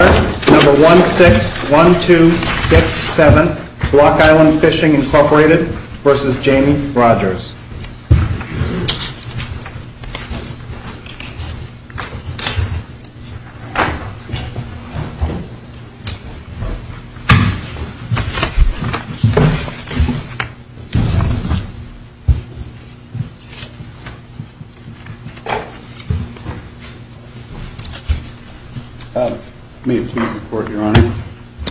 Number 161267, Block Island Fishing Incorporated versus Jamie Rogers. May it please the Court, Your Honor,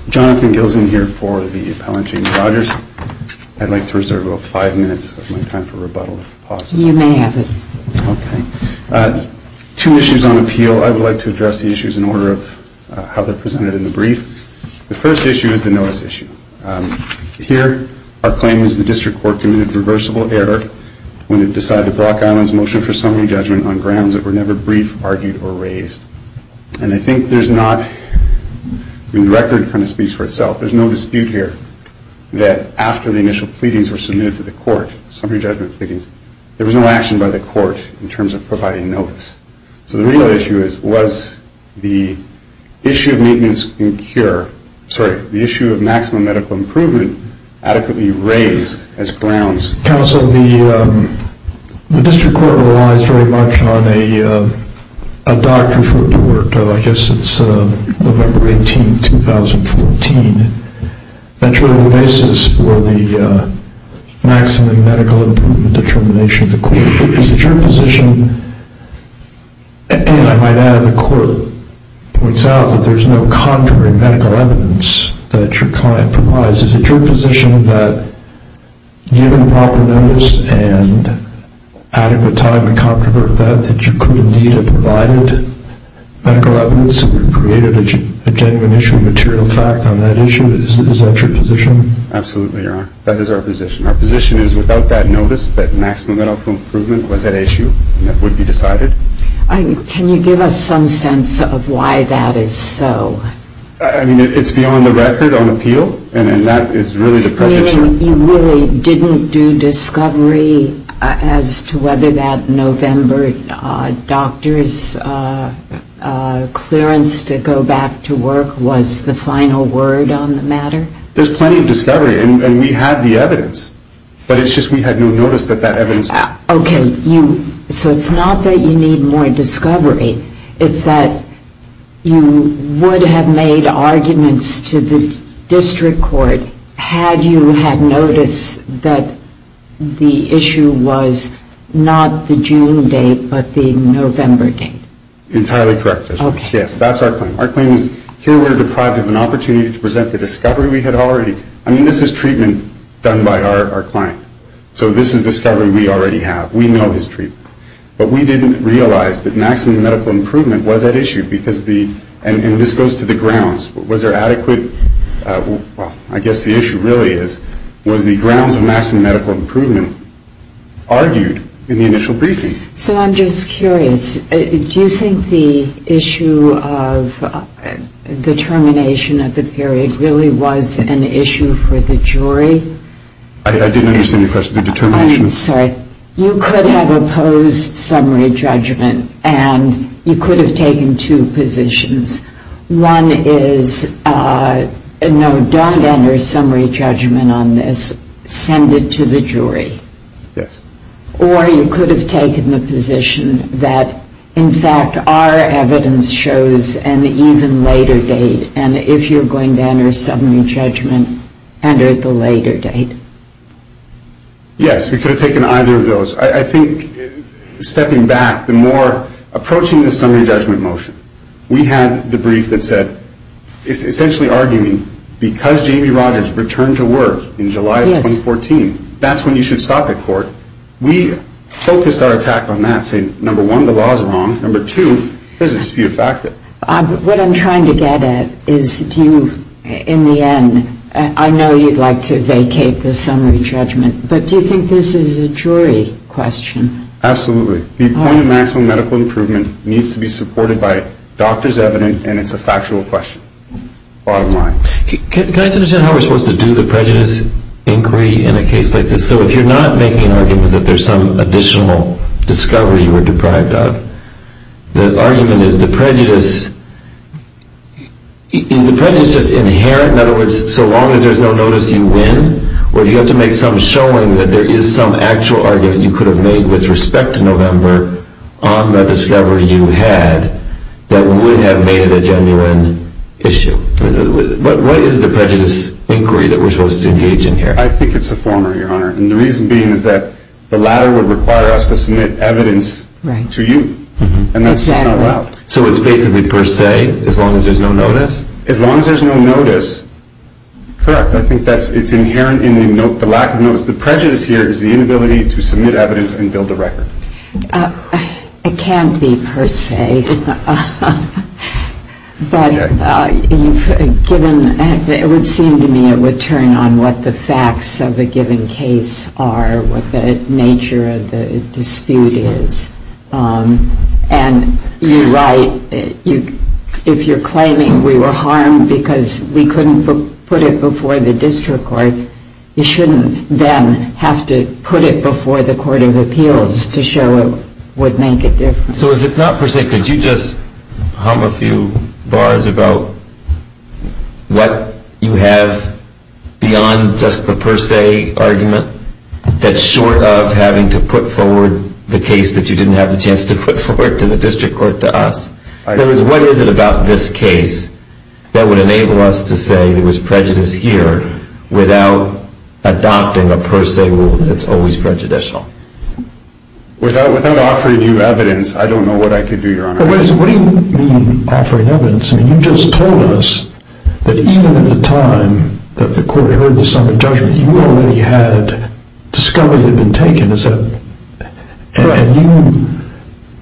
Jonathan Gilson here for the appellant, Jamie Rogers. I'd like to reserve about five minutes of my time for rebuttal, if possible. You may have it. Okay. Two issues on appeal. I would like to address the issues in order of how they're presented in the brief. The first issue is the notice issue. Here, our claim is the district court committed reversible error when it decided to block Island's motion for summary judgment on grounds that were never briefed, argued, or raised. And I think there's not, the record kind of speaks for itself, there's no dispute here that after the initial pleadings were submitted to the court, summary judgment pleadings, there was no action by the court in terms of providing notice. So the real issue is was the issue of maintenance and cure, sorry, the issue of maximum medical improvement adequately raised as grounds. Counsel, the district court relies very much on a doctor's report. I guess it's November 18, 2014. That's really the basis for the maximum medical improvement determination. Is it your position, and I might add the court points out that there's no contrary medical evidence that your client provides. Is it your position that given proper notice and adequate time and comfort with that, that you could indeed have provided medical evidence and created a genuine issue of material fact on that issue? Is that your position? Absolutely, Your Honor. That is our position. Our position is without that notice that maximum medical improvement was at issue and it would be decided. Can you give us some sense of why that is so? I mean, it's beyond the record on appeal, and that is really the prejudice. You really didn't do discovery as to whether that November doctor's clearance to go back to work was the final word on the matter? There's plenty of discovery, and we have the evidence. But it's just we had no notice that that evidence... Okay, so it's not that you need more discovery. It's that you would have made arguments to the district court had you had notice that the issue was not the June date but the November date. Entirely correct. Yes, that's our claim. Our claim is here we're deprived of an opportunity to present the discovery we had already. I mean, this is treatment done by our client. So this is discovery we already have. We know his treatment. But we didn't realize that maximum medical improvement was at issue because the... And this goes to the grounds. Was there adequate... Well, I guess the issue really is was the grounds of maximum medical improvement argued in the initial briefing? So I'm just curious. Do you think the issue of the termination of the period really was an issue for the jury? I didn't understand your question. I'm sorry. You could have opposed summary judgment, and you could have taken two positions. One is, no, don't enter summary judgment on this. Send it to the jury. Yes. Or you could have taken the position that, in fact, our evidence shows an even later date, and if you're going to enter summary judgment, enter it at the later date. Yes, we could have taken either of those. I think, stepping back, the more approaching the summary judgment motion, we had the brief that said it's essentially arguing because J.B. Rogers returned to work in July of 2014, that's when you should stop at court. We focused our attack on that, saying, number one, the law is wrong. Number two, there's a dispute of fact there. What I'm trying to get at is do you, in the end, I know you'd like to vacate the summary judgment, but do you think this is a jury question? Absolutely. The point of maximum medical improvement needs to be supported by doctor's evidence, and it's a factual question, bottom line. Can I just understand how we're supposed to do the prejudice inquiry in a case like this? So if you're not making an argument that there's some additional discovery you were deprived of, the argument is the prejudice, is the prejudice just inherent, in other words, so long as there's no notice you win, or do you have to make some showing that there is some actual argument you could have made with respect to November on the discovery you had that would have made it a genuine issue? What is the prejudice inquiry that we're supposed to engage in here? I think it's a former, Your Honor, and the reason being is that the latter would require us to submit evidence to you, and that's just not allowed. Exactly. So it's basically per se, as long as there's no notice? As long as there's no notice, correct. I think it's inherent in the lack of notice. The prejudice here is the inability to submit evidence and build a record. It can't be per se. But it would seem to me it would turn on what the facts of a given case are, what the nature of the dispute is, and you're right, if you're claiming we were harmed because we couldn't put it before the district court, you shouldn't then have to put it before the court of appeals to show it would make a difference. So if it's not per se, could you just hum a few bars about what you have beyond just the per se argument that's short of having to put forward the case that you didn't have the chance to put forward to the district court to us? In other words, what is it about this case that would enable us to say there was prejudice here without adopting a per se rule that's always prejudicial? Without offering you evidence, I don't know what I could do, Your Honor. What do you mean, offering evidence? I mean, you just told us that even at the time that the court heard the summons judgment, you already had discovered it had been taken. And you,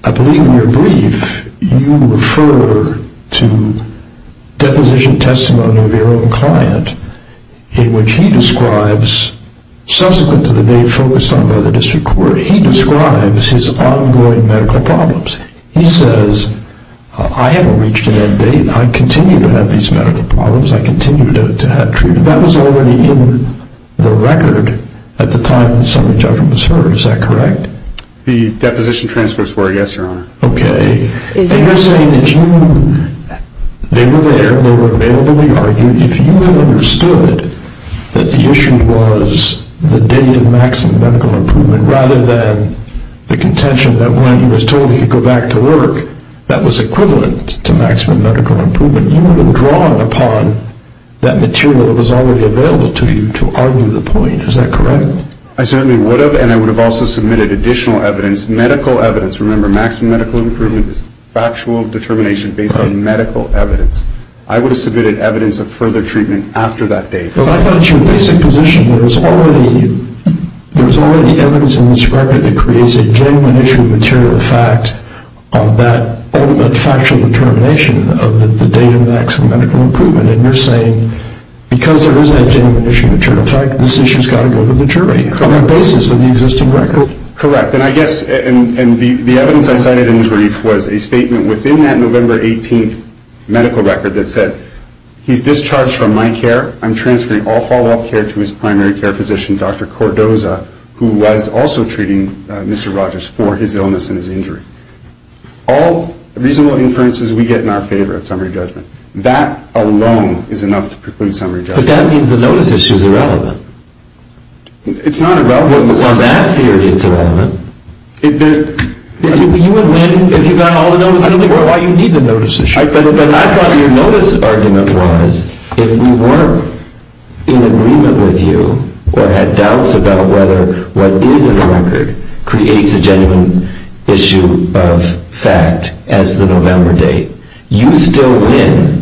I believe in your brief, you refer to deposition testimony of your own client in which he describes, subsequent to the day focused on by the district court, he describes his ongoing medical problems. He says, I haven't reached an end date. I continue to have these medical problems. I continue to have treatment. That was already in the record at the time the summons judgment was heard. Is that correct? The deposition transcripts were, yes, Your Honor. Okay. And you're saying that you, they were there, they were available, you argued if you had understood that the issue was the date of maximum medical improvement rather than the contention that when he was told he could go back to work, that was equivalent to maximum medical improvement, you would have drawn upon that material that was already available to you to argue the point. Is that correct? I certainly would have, and I would have also submitted additional evidence, medical evidence. Remember, maximum medical improvement is factual determination based on medical evidence. I would have submitted evidence of further treatment after that date. Well, I thought at your basic position there was already evidence in this record that creates a genuine issue of material fact on that ultimate factual determination of the date of maximum medical improvement, and you're saying because there is that genuine issue of material fact, this issue has got to go to the jury on the basis of the existing record. Correct. And I guess, and the evidence I cited in the brief was a statement within that November 18th medical record that said he's discharged from my care. I'm transferring all follow-up care to his primary care physician, Dr. Cordoza, who was also treating Mr. Rogers for his illness and his injury. All reasonable inferences we get in our favor at summary judgment. That alone is enough to preclude summary judgment. But that means the notice issue is irrelevant. It's not irrelevant. Well, it was that theory that's irrelevant. You would win if you got all the notice in the record. I don't know why you need the notice issue. But I thought your notice argument was if we weren't in agreement with you or had doubts about whether what is in the record creates a genuine issue of fact as the November date, you'd still win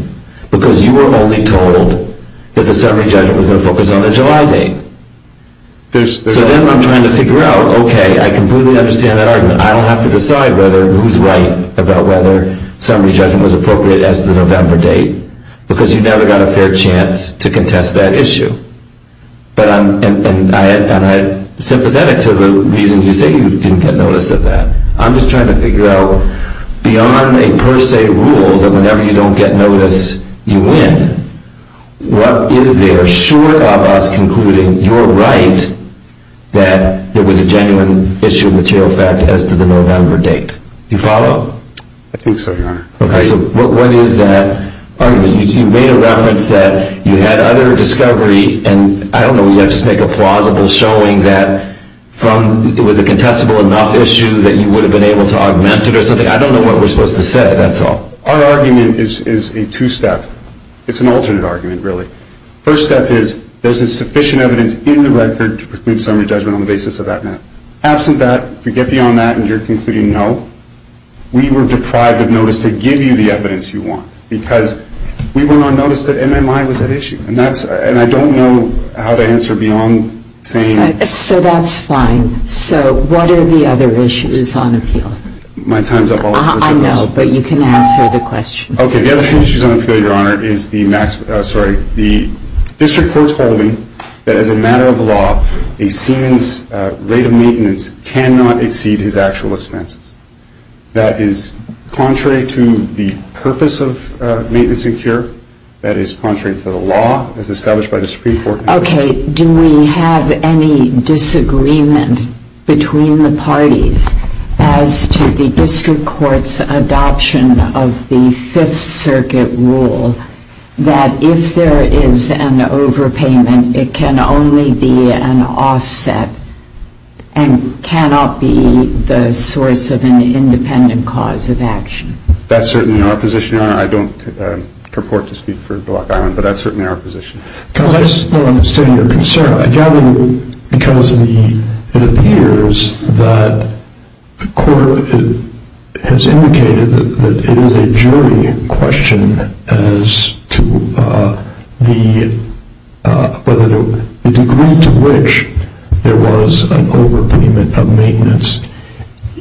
because you were only told that the summary judgment was going to focus on the July date. So then I'm trying to figure out, okay, I completely understand that argument. I don't have to decide whether who's right about whether summary judgment was appropriate as the November date because you never got a fair chance to contest that issue. And I'm sympathetic to the reason you say you didn't get notice of that. I'm just trying to figure out beyond a per se rule that whenever you don't get notice, you win, what is there short of us concluding you're right that there was a genuine issue of material fact as to the November date? Do you follow? I think so, Your Honor. Okay, so what is that argument? You made a reference that you had other discovery, and I don't know, you have to just make a plausible showing that from it was a contestable enough issue that you would have been able to augment it or something. I don't know what we're supposed to say, that's all. Our argument is a two-step. It's an alternate argument, really. First step is there's a sufficient evidence in the record to conclude summary judgment on the basis of that map. Absent that, if you get beyond that and you're concluding no, we were deprived of notice to give you the evidence you want because we were not noticed that MMI was at issue. And I don't know how to answer beyond saying. So that's fine. So what are the other issues on appeal? My time's up. I know, but you can answer the question. Okay, the other issues on appeal, Your Honor, is the district court's holding that as a matter of law, a seaman's rate of maintenance cannot exceed his actual expenses. That is contrary to the purpose of maintenance and cure. That is contrary to the law as established by the Supreme Court. Okay, do we have any disagreement between the parties as to the district court's adoption of the Fifth Circuit rule that if there is an overpayment, it can only be an offset and cannot be the source of an independent cause of action? That's certainly our position, Your Honor. I don't purport to speak for Block Island, but that's certainly our position. Counsel, I just don't understand your concern. I gather because it appears that the court has indicated that it is a jury question as to the degree to which there was an overpayment of maintenance.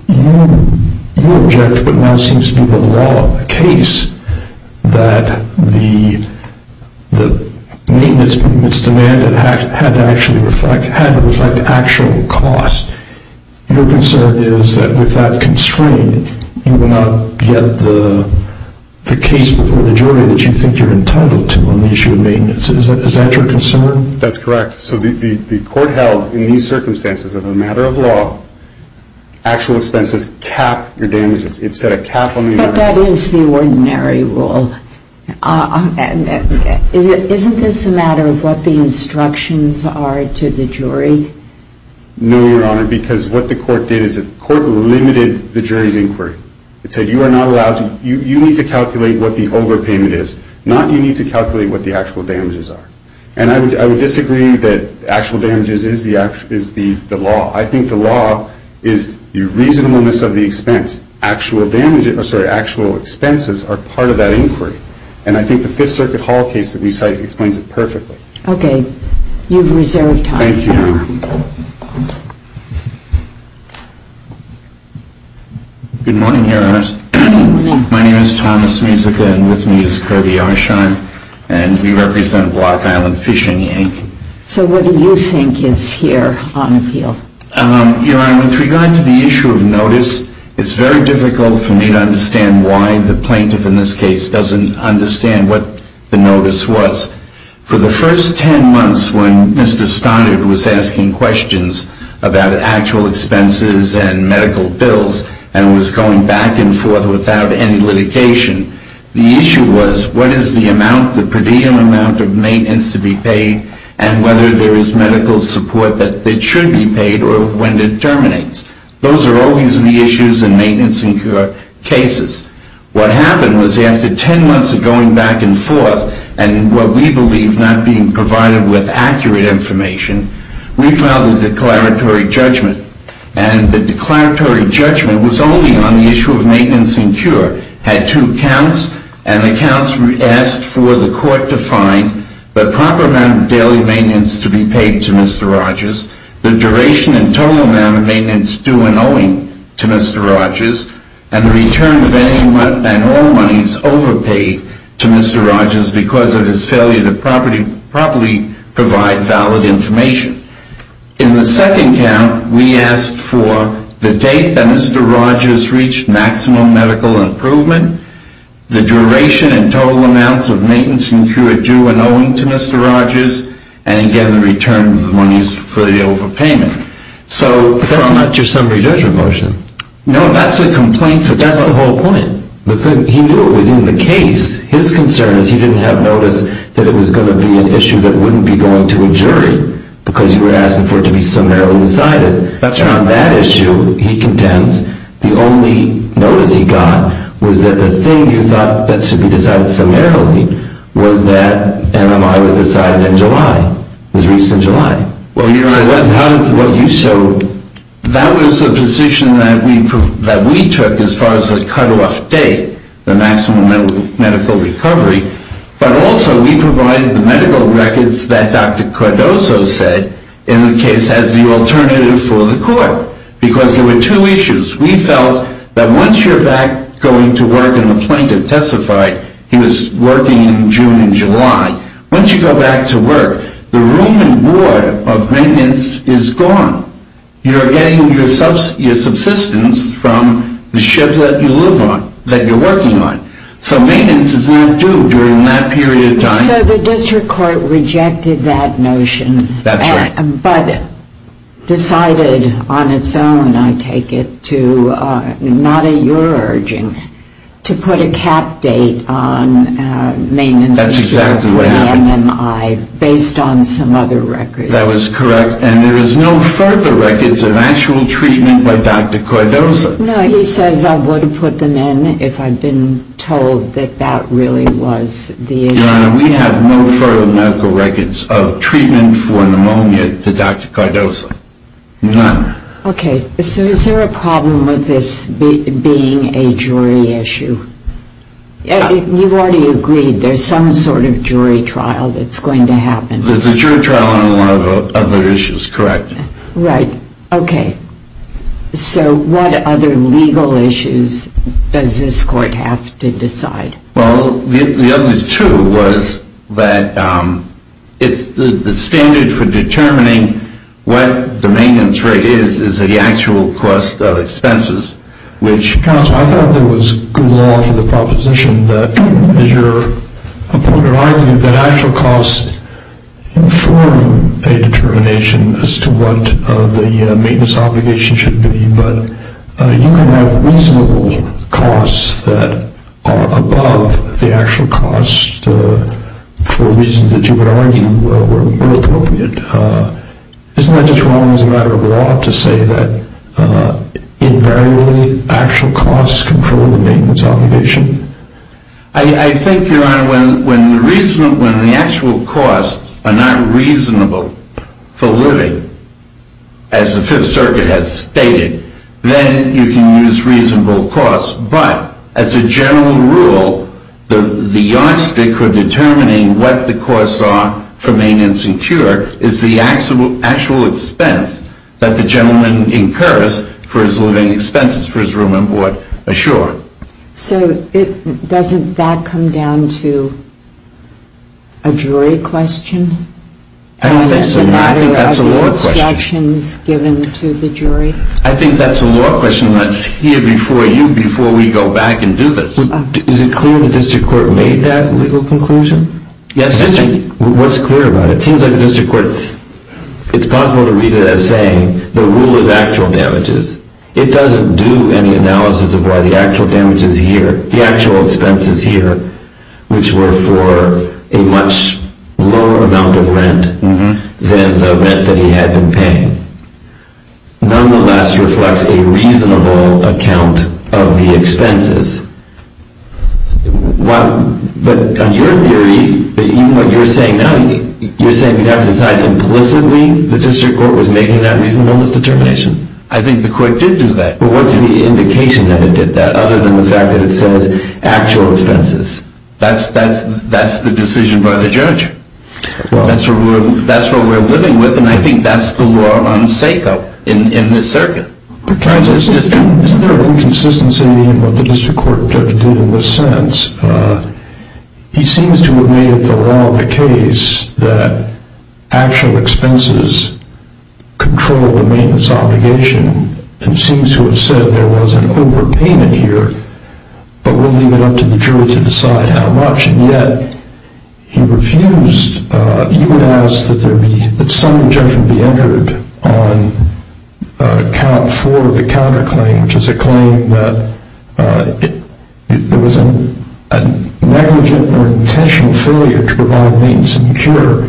You object what now seems to be the law case that the maintenance permit's demand had to reflect actual cost. Your concern is that with that constraint, you will not get the case before the jury that you think you're entitled to on the issue of maintenance. Is that your concern? That's correct. So the court held in these circumstances, as a matter of law, actual expenses cap your damages. It set a cap on the amount. But that is the ordinary rule. Isn't this a matter of what the instructions are to the jury? No, Your Honor, because what the court did is the court limited the jury's inquiry. It said you are not allowed to, you need to calculate what the overpayment is, not you need to calculate what the actual damages are. And I would disagree that actual damages is the law. I think the law is the reasonableness of the expense. Actual expenses are part of that inquiry. And I think the Fifth Circuit Hall case that we cite explains it perfectly. Okay, you have reserved time. Thank you, Your Honor. Good morning, Your Honor. Good morning. My name is Thomas Musica, and with me is Kirby Arshine. And we represent Block Island Fish and Yank. So what do you think is here on appeal? Your Honor, with regard to the issue of notice, it's very difficult for me to understand why the plaintiff in this case doesn't understand what the notice was. For the first ten months when Mr. Stoddard was asking questions about actual expenses and medical bills and was going back and forth without any litigation, the issue was what is the amount, the per diem amount of maintenance to be paid and whether there is medical support that should be paid or when it terminates. Those are always the issues in maintenance cases. What happened was after ten months of going back and forth and what we believe not being provided with accurate information, we filed a declaratory judgment. And the declaratory judgment was only on the issue of maintenance and cure. It had two counts, and the counts asked for the court to find the proper amount of daily maintenance to be paid to Mr. Rogers, the duration and total amount of maintenance due and owing to Mr. Rogers, and the return of any and all monies overpaid to Mr. Rogers because of his failure to properly provide valid information. In the second count, we asked for the date that Mr. Rogers reached maximum medical improvement, the duration and total amounts of maintenance and cure due and owing to Mr. Rogers, and again, the return of the monies for the overpayment. But that's not your summary judgment motion. No, that's a complaint. But that's the whole point. He knew it was in the case. His concern is he didn't have notice that it was going to be an issue that wouldn't be going to a jury because you were asking for it to be summarily decided. That's right. On that issue, he contends the only notice he got was that the thing you thought that should be decided summarily was that MMI was decided in July, was reached in July. Well, you're right. So what you showed, that was the position that we took as far as the cutoff date, the maximum medical recovery. But also, we provided the medical records that Dr. Cardoso said in the case as the alternative for the court because there were two issues. We felt that once you're back going to work, and the plaintiff testified he was working in June and July, once you go back to work, the room and board of maintenance is gone. You're getting your subsistence from the shift that you live on, that you're working on. So maintenance is not due during that period of time. So the district court rejected that notion. That's right. But decided on its own, I take it, not at your urging, to put a cap date on maintenance. That's exactly what happened. Based on some other records. That was correct. And there is no further records of actual treatment by Dr. Cardoso. No, he says I would have put them in if I'd been told that that really was the issue. Your Honor, we have no further medical records of treatment for pneumonia to Dr. Cardoso. None. Okay. So is there a problem with this being a jury issue? You've already agreed there's some sort of jury trial that's going to happen. There's a jury trial on a lot of other issues, correct. Right. Okay. So what other legal issues does this court have to decide? Well, the other two was that the standard for determining what the maintenance rate is, is the actual cost of expenses, which- Counsel, I thought there was good law for the proposition that, as your point of argument, that actual costs inform a determination as to what the maintenance obligation should be, but you can have reasonable costs that are above the actual cost for reasons that you would argue were appropriate. Isn't that just wrong as a matter of law to say that invariably actual costs control the maintenance obligation? I think, Your Honor, when the actual costs are not reasonable for living, as the Fifth Circuit has stated, then you can use reasonable costs, but as a general rule, the yardstick for determining what the costs are for maintenance and cure is the actual expense that the gentleman incurs for his living expenses for his room and board assured. So doesn't that come down to a jury question? I think that's a law question. And then the matter of the instructions given to the jury? I think that's a law question that's here before you before we go back and do this. Is it clear the district court made that legal conclusion? Yes. What's clear about it? It seems like the district court, it's possible to read it as saying the rule is actual damages. It doesn't do any analysis of why the actual damages here, the actual expenses here, which were for a much lower amount of rent than the rent that he had been paying, nonetheless reflects a reasonable account of the expenses. But on your theory, even what you're saying now, you're saying you'd have to decide implicitly the district court was making that reasonableness determination? I think the court did do that. But what's the indication that it did that other than the fact that it says actual expenses? That's the decision by the judge. That's what we're living with, and I think that's the law on SACO in this circuit. Is there an inconsistency in what the district court did in this sense? He seems to have made it the law of the case that actual expenses control the maintenance obligation and seems to have said there was an overpayment here, but we'll leave it up to the jury to decide how much, and yet he refused. He would ask that some injunction be entered for the counterclaim, which is a claim that there was a negligent or intentional failure to provide maintenance and cure.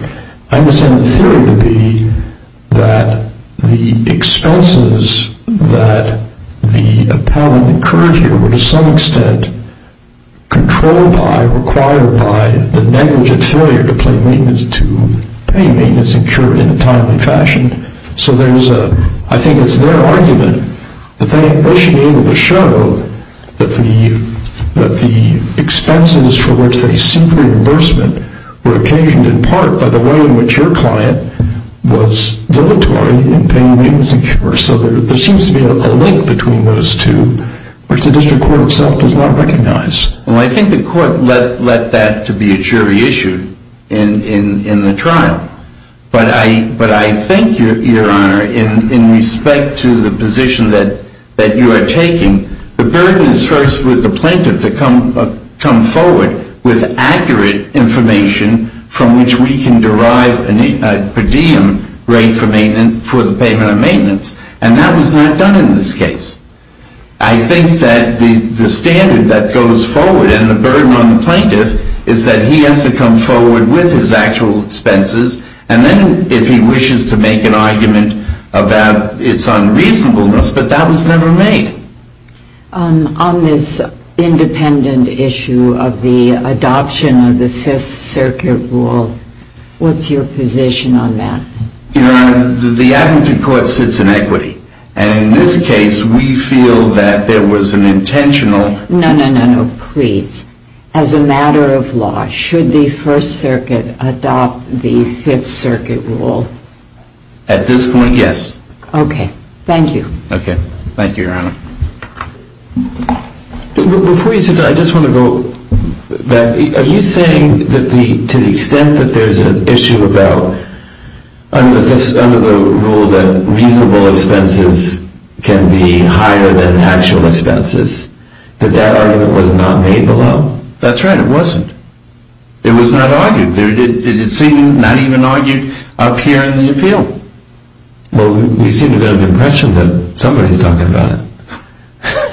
I understand the theory to be that the expenses that the appellant incurred here were to some extent controlled by or required by the negligent failure to pay maintenance and cure in a timely fashion. I think it's their argument that they should be able to show that the expenses for which they seek reimbursement were occasioned in part by the way in which your client was dilatory in paying maintenance and cure. So there seems to be a link between those two, which the district court itself does not recognize. I think the court let that to be a jury issue in the trial. But I think, Your Honor, in respect to the position that you are taking, the burden is first with the plaintiff to come forward with accurate information from which we can derive a per diem rate for the payment of maintenance, and that was not done in this case. I think that the standard that goes forward and the burden on the plaintiff is that he has to come forward with his actual expenses, and then if he wishes to make an argument about its unreasonableness, but that was never made. On this independent issue of the adoption of the Fifth Circuit rule, what's your position on that? Your Honor, the advocacy court sits in equity, and in this case we feel that there was an intentional No, no, no, no. Please. As a matter of law, should the First Circuit adopt the Fifth Circuit rule? At this point, yes. Okay. Thank you. Okay. Thank you, Your Honor. Before you sit down, I just want to go back. Are you saying that to the extent that there's an issue about, under the rule that reasonable expenses can be higher than actual expenses, that that argument was not made below? That's right. It wasn't. It was not argued. It's not even argued up here in the appeal. Well, you seem to have an impression that somebody's talking about it.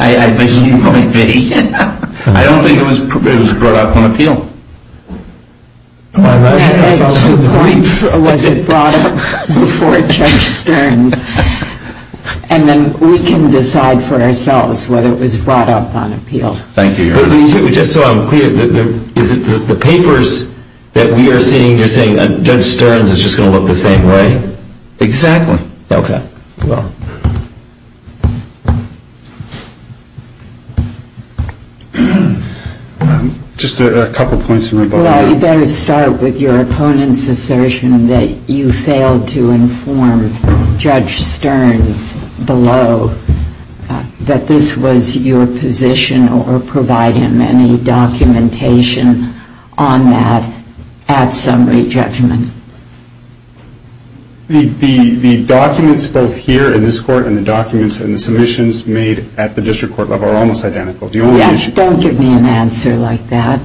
I bet you might be. I don't think it was brought up on appeal. Was it brought up before Judge Stearns? And then we can decide for ourselves whether it was brought up on appeal. Thank you, Your Honor. Just so I'm clear, is it the papers that we are seeing, you're saying Judge Stearns is just going to look the same way? Exactly. Okay. Well. Just a couple points. Well, you better start with your opponent's assertion that you failed to inform Judge Stearns below that this was your position or provide him any documentation on that at summary judgment. The documents both here in this court and the documents in the submissions made at the district court level are almost identical. Don't give me an answer like that.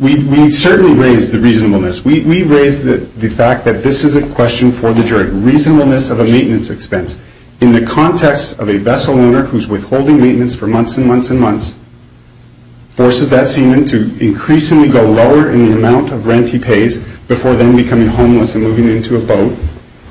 We certainly raised the reasonableness. We raised the fact that this is a question for the jury, reasonableness of a maintenance expense. In the context of a vessel owner who's withholding maintenance for months and months and months, forces that seaman to increasingly go lower in the amount of rent he pays before then becoming homeless and moving into a boat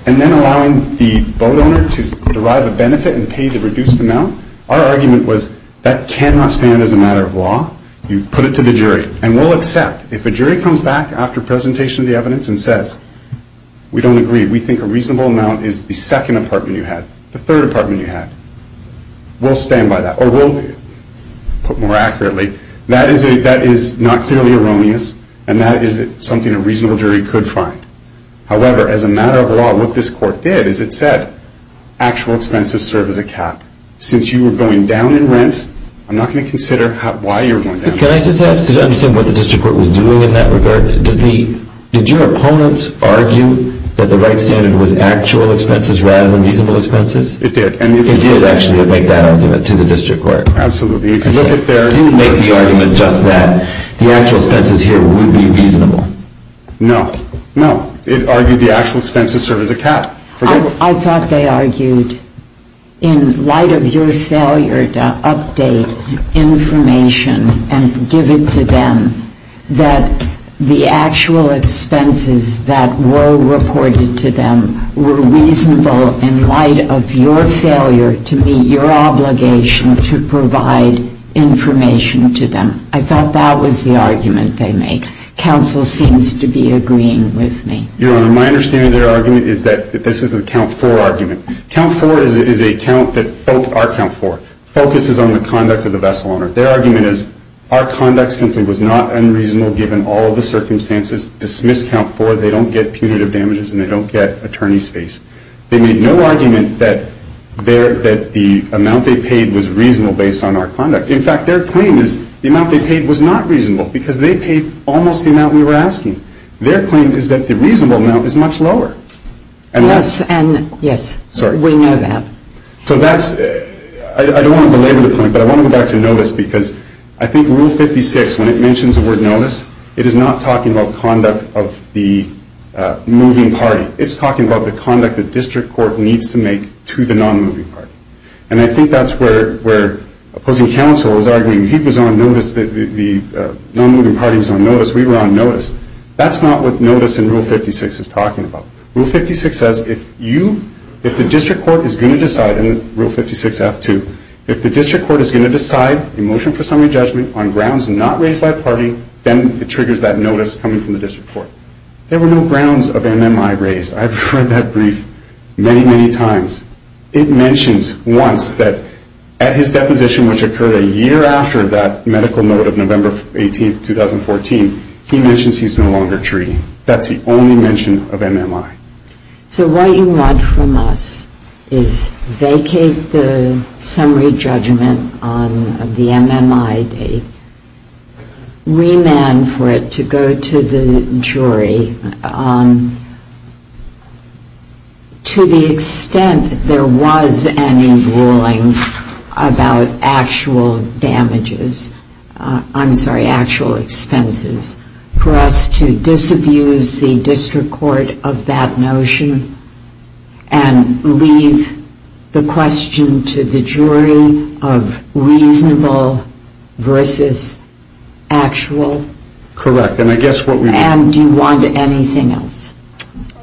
and then allowing the boat owner to derive a benefit and pay the reduced amount, our argument was that cannot stand as a matter of law. You put it to the jury, and we'll accept. If a jury comes back after presentation of the evidence and says, we don't agree, we think a reasonable amount is the second apartment you had, the third apartment you had, we'll stand by that or we'll put more accurately, that is not clearly erroneous and that is something a reasonable jury could find. However, as a matter of law, what this court did is it said, actual expenses serve as a cap. Since you were going down in rent, I'm not going to consider why you were going down. Can I just ask to understand what the district court was doing in that regard? Did your opponents argue that the right standard was actual expenses rather than reasonable expenses? It did. It did actually make that argument to the district court. Absolutely. Did it make the argument just that the actual expenses here would be reasonable? No. No. It argued the actual expenses serve as a cap. I thought they argued in light of your failure to update information and give it to them that the actual expenses that were reported to them were reasonable in light of your failure to meet your obligation to provide information to them. I thought that was the argument they made. Counsel seems to be agreeing with me. Your Honor, my understanding of their argument is that this is a count-for argument. Count-for is a count that, our count-for, focuses on the conduct of the vessel owner. Their argument is our conduct simply was not unreasonable given all the circumstances. Dismiss count-for. They made no argument that the amount they paid was reasonable based on our conduct. In fact, their claim is the amount they paid was not reasonable because they paid almost the amount we were asking. Their claim is that the reasonable amount is much lower. Yes. Yes. Sorry. We know that. So that's, I don't want to belabor the point, but I want to go back to notice because I think Rule 56, when it mentions the word notice, it is not talking about conduct of the moving party. It's talking about the conduct the district court needs to make to the non-moving party. And I think that's where opposing counsel is arguing. He was on notice that the non-moving party was on notice. We were on notice. That's not what notice in Rule 56 is talking about. Rule 56 says if you, if the district court is going to decide, and Rule 56-F-2, if the district court is going to decide a motion for summary judgment on grounds not raised by a party, then it triggers that notice coming from the district court. There were no grounds of MMI raised. I've heard that brief many, many times. It mentions once that at his deposition, which occurred a year after that medical note of November 18, 2014, he mentions he's no longer treating. That's the only mention of MMI. So what you want from us is vacate the summary judgment on the MMI date, remand for it to go to the jury. To the extent there was any ruling about actual damages, I'm sorry, actual expenses, for us to disabuse the district court of that notion and leave the question to the jury of reasonable versus actual? Correct. And do you want anything else?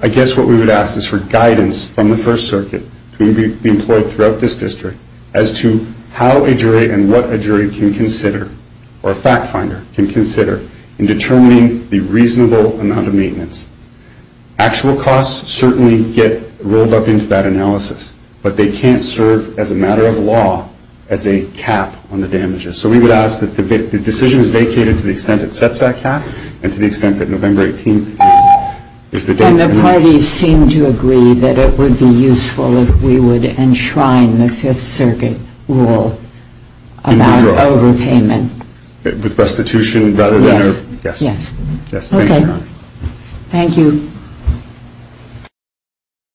I guess what we would ask is for guidance from the First Circuit to be employed throughout this district as to how a jury and what a jury can consider or a fact finder can consider in determining the reasonable amount of maintenance. Actual costs certainly get rolled up into that analysis, but they can't serve as a matter of law as a cap on the damages. So we would ask that the decision is vacated to the extent it sets that cap and to the extent that November 18 is the date. And the parties seem to agree that it would be useful if we would enshrine the Fifth Circuit rule about overpayment. With restitution rather than... Yes. Yes. Okay. Thank you.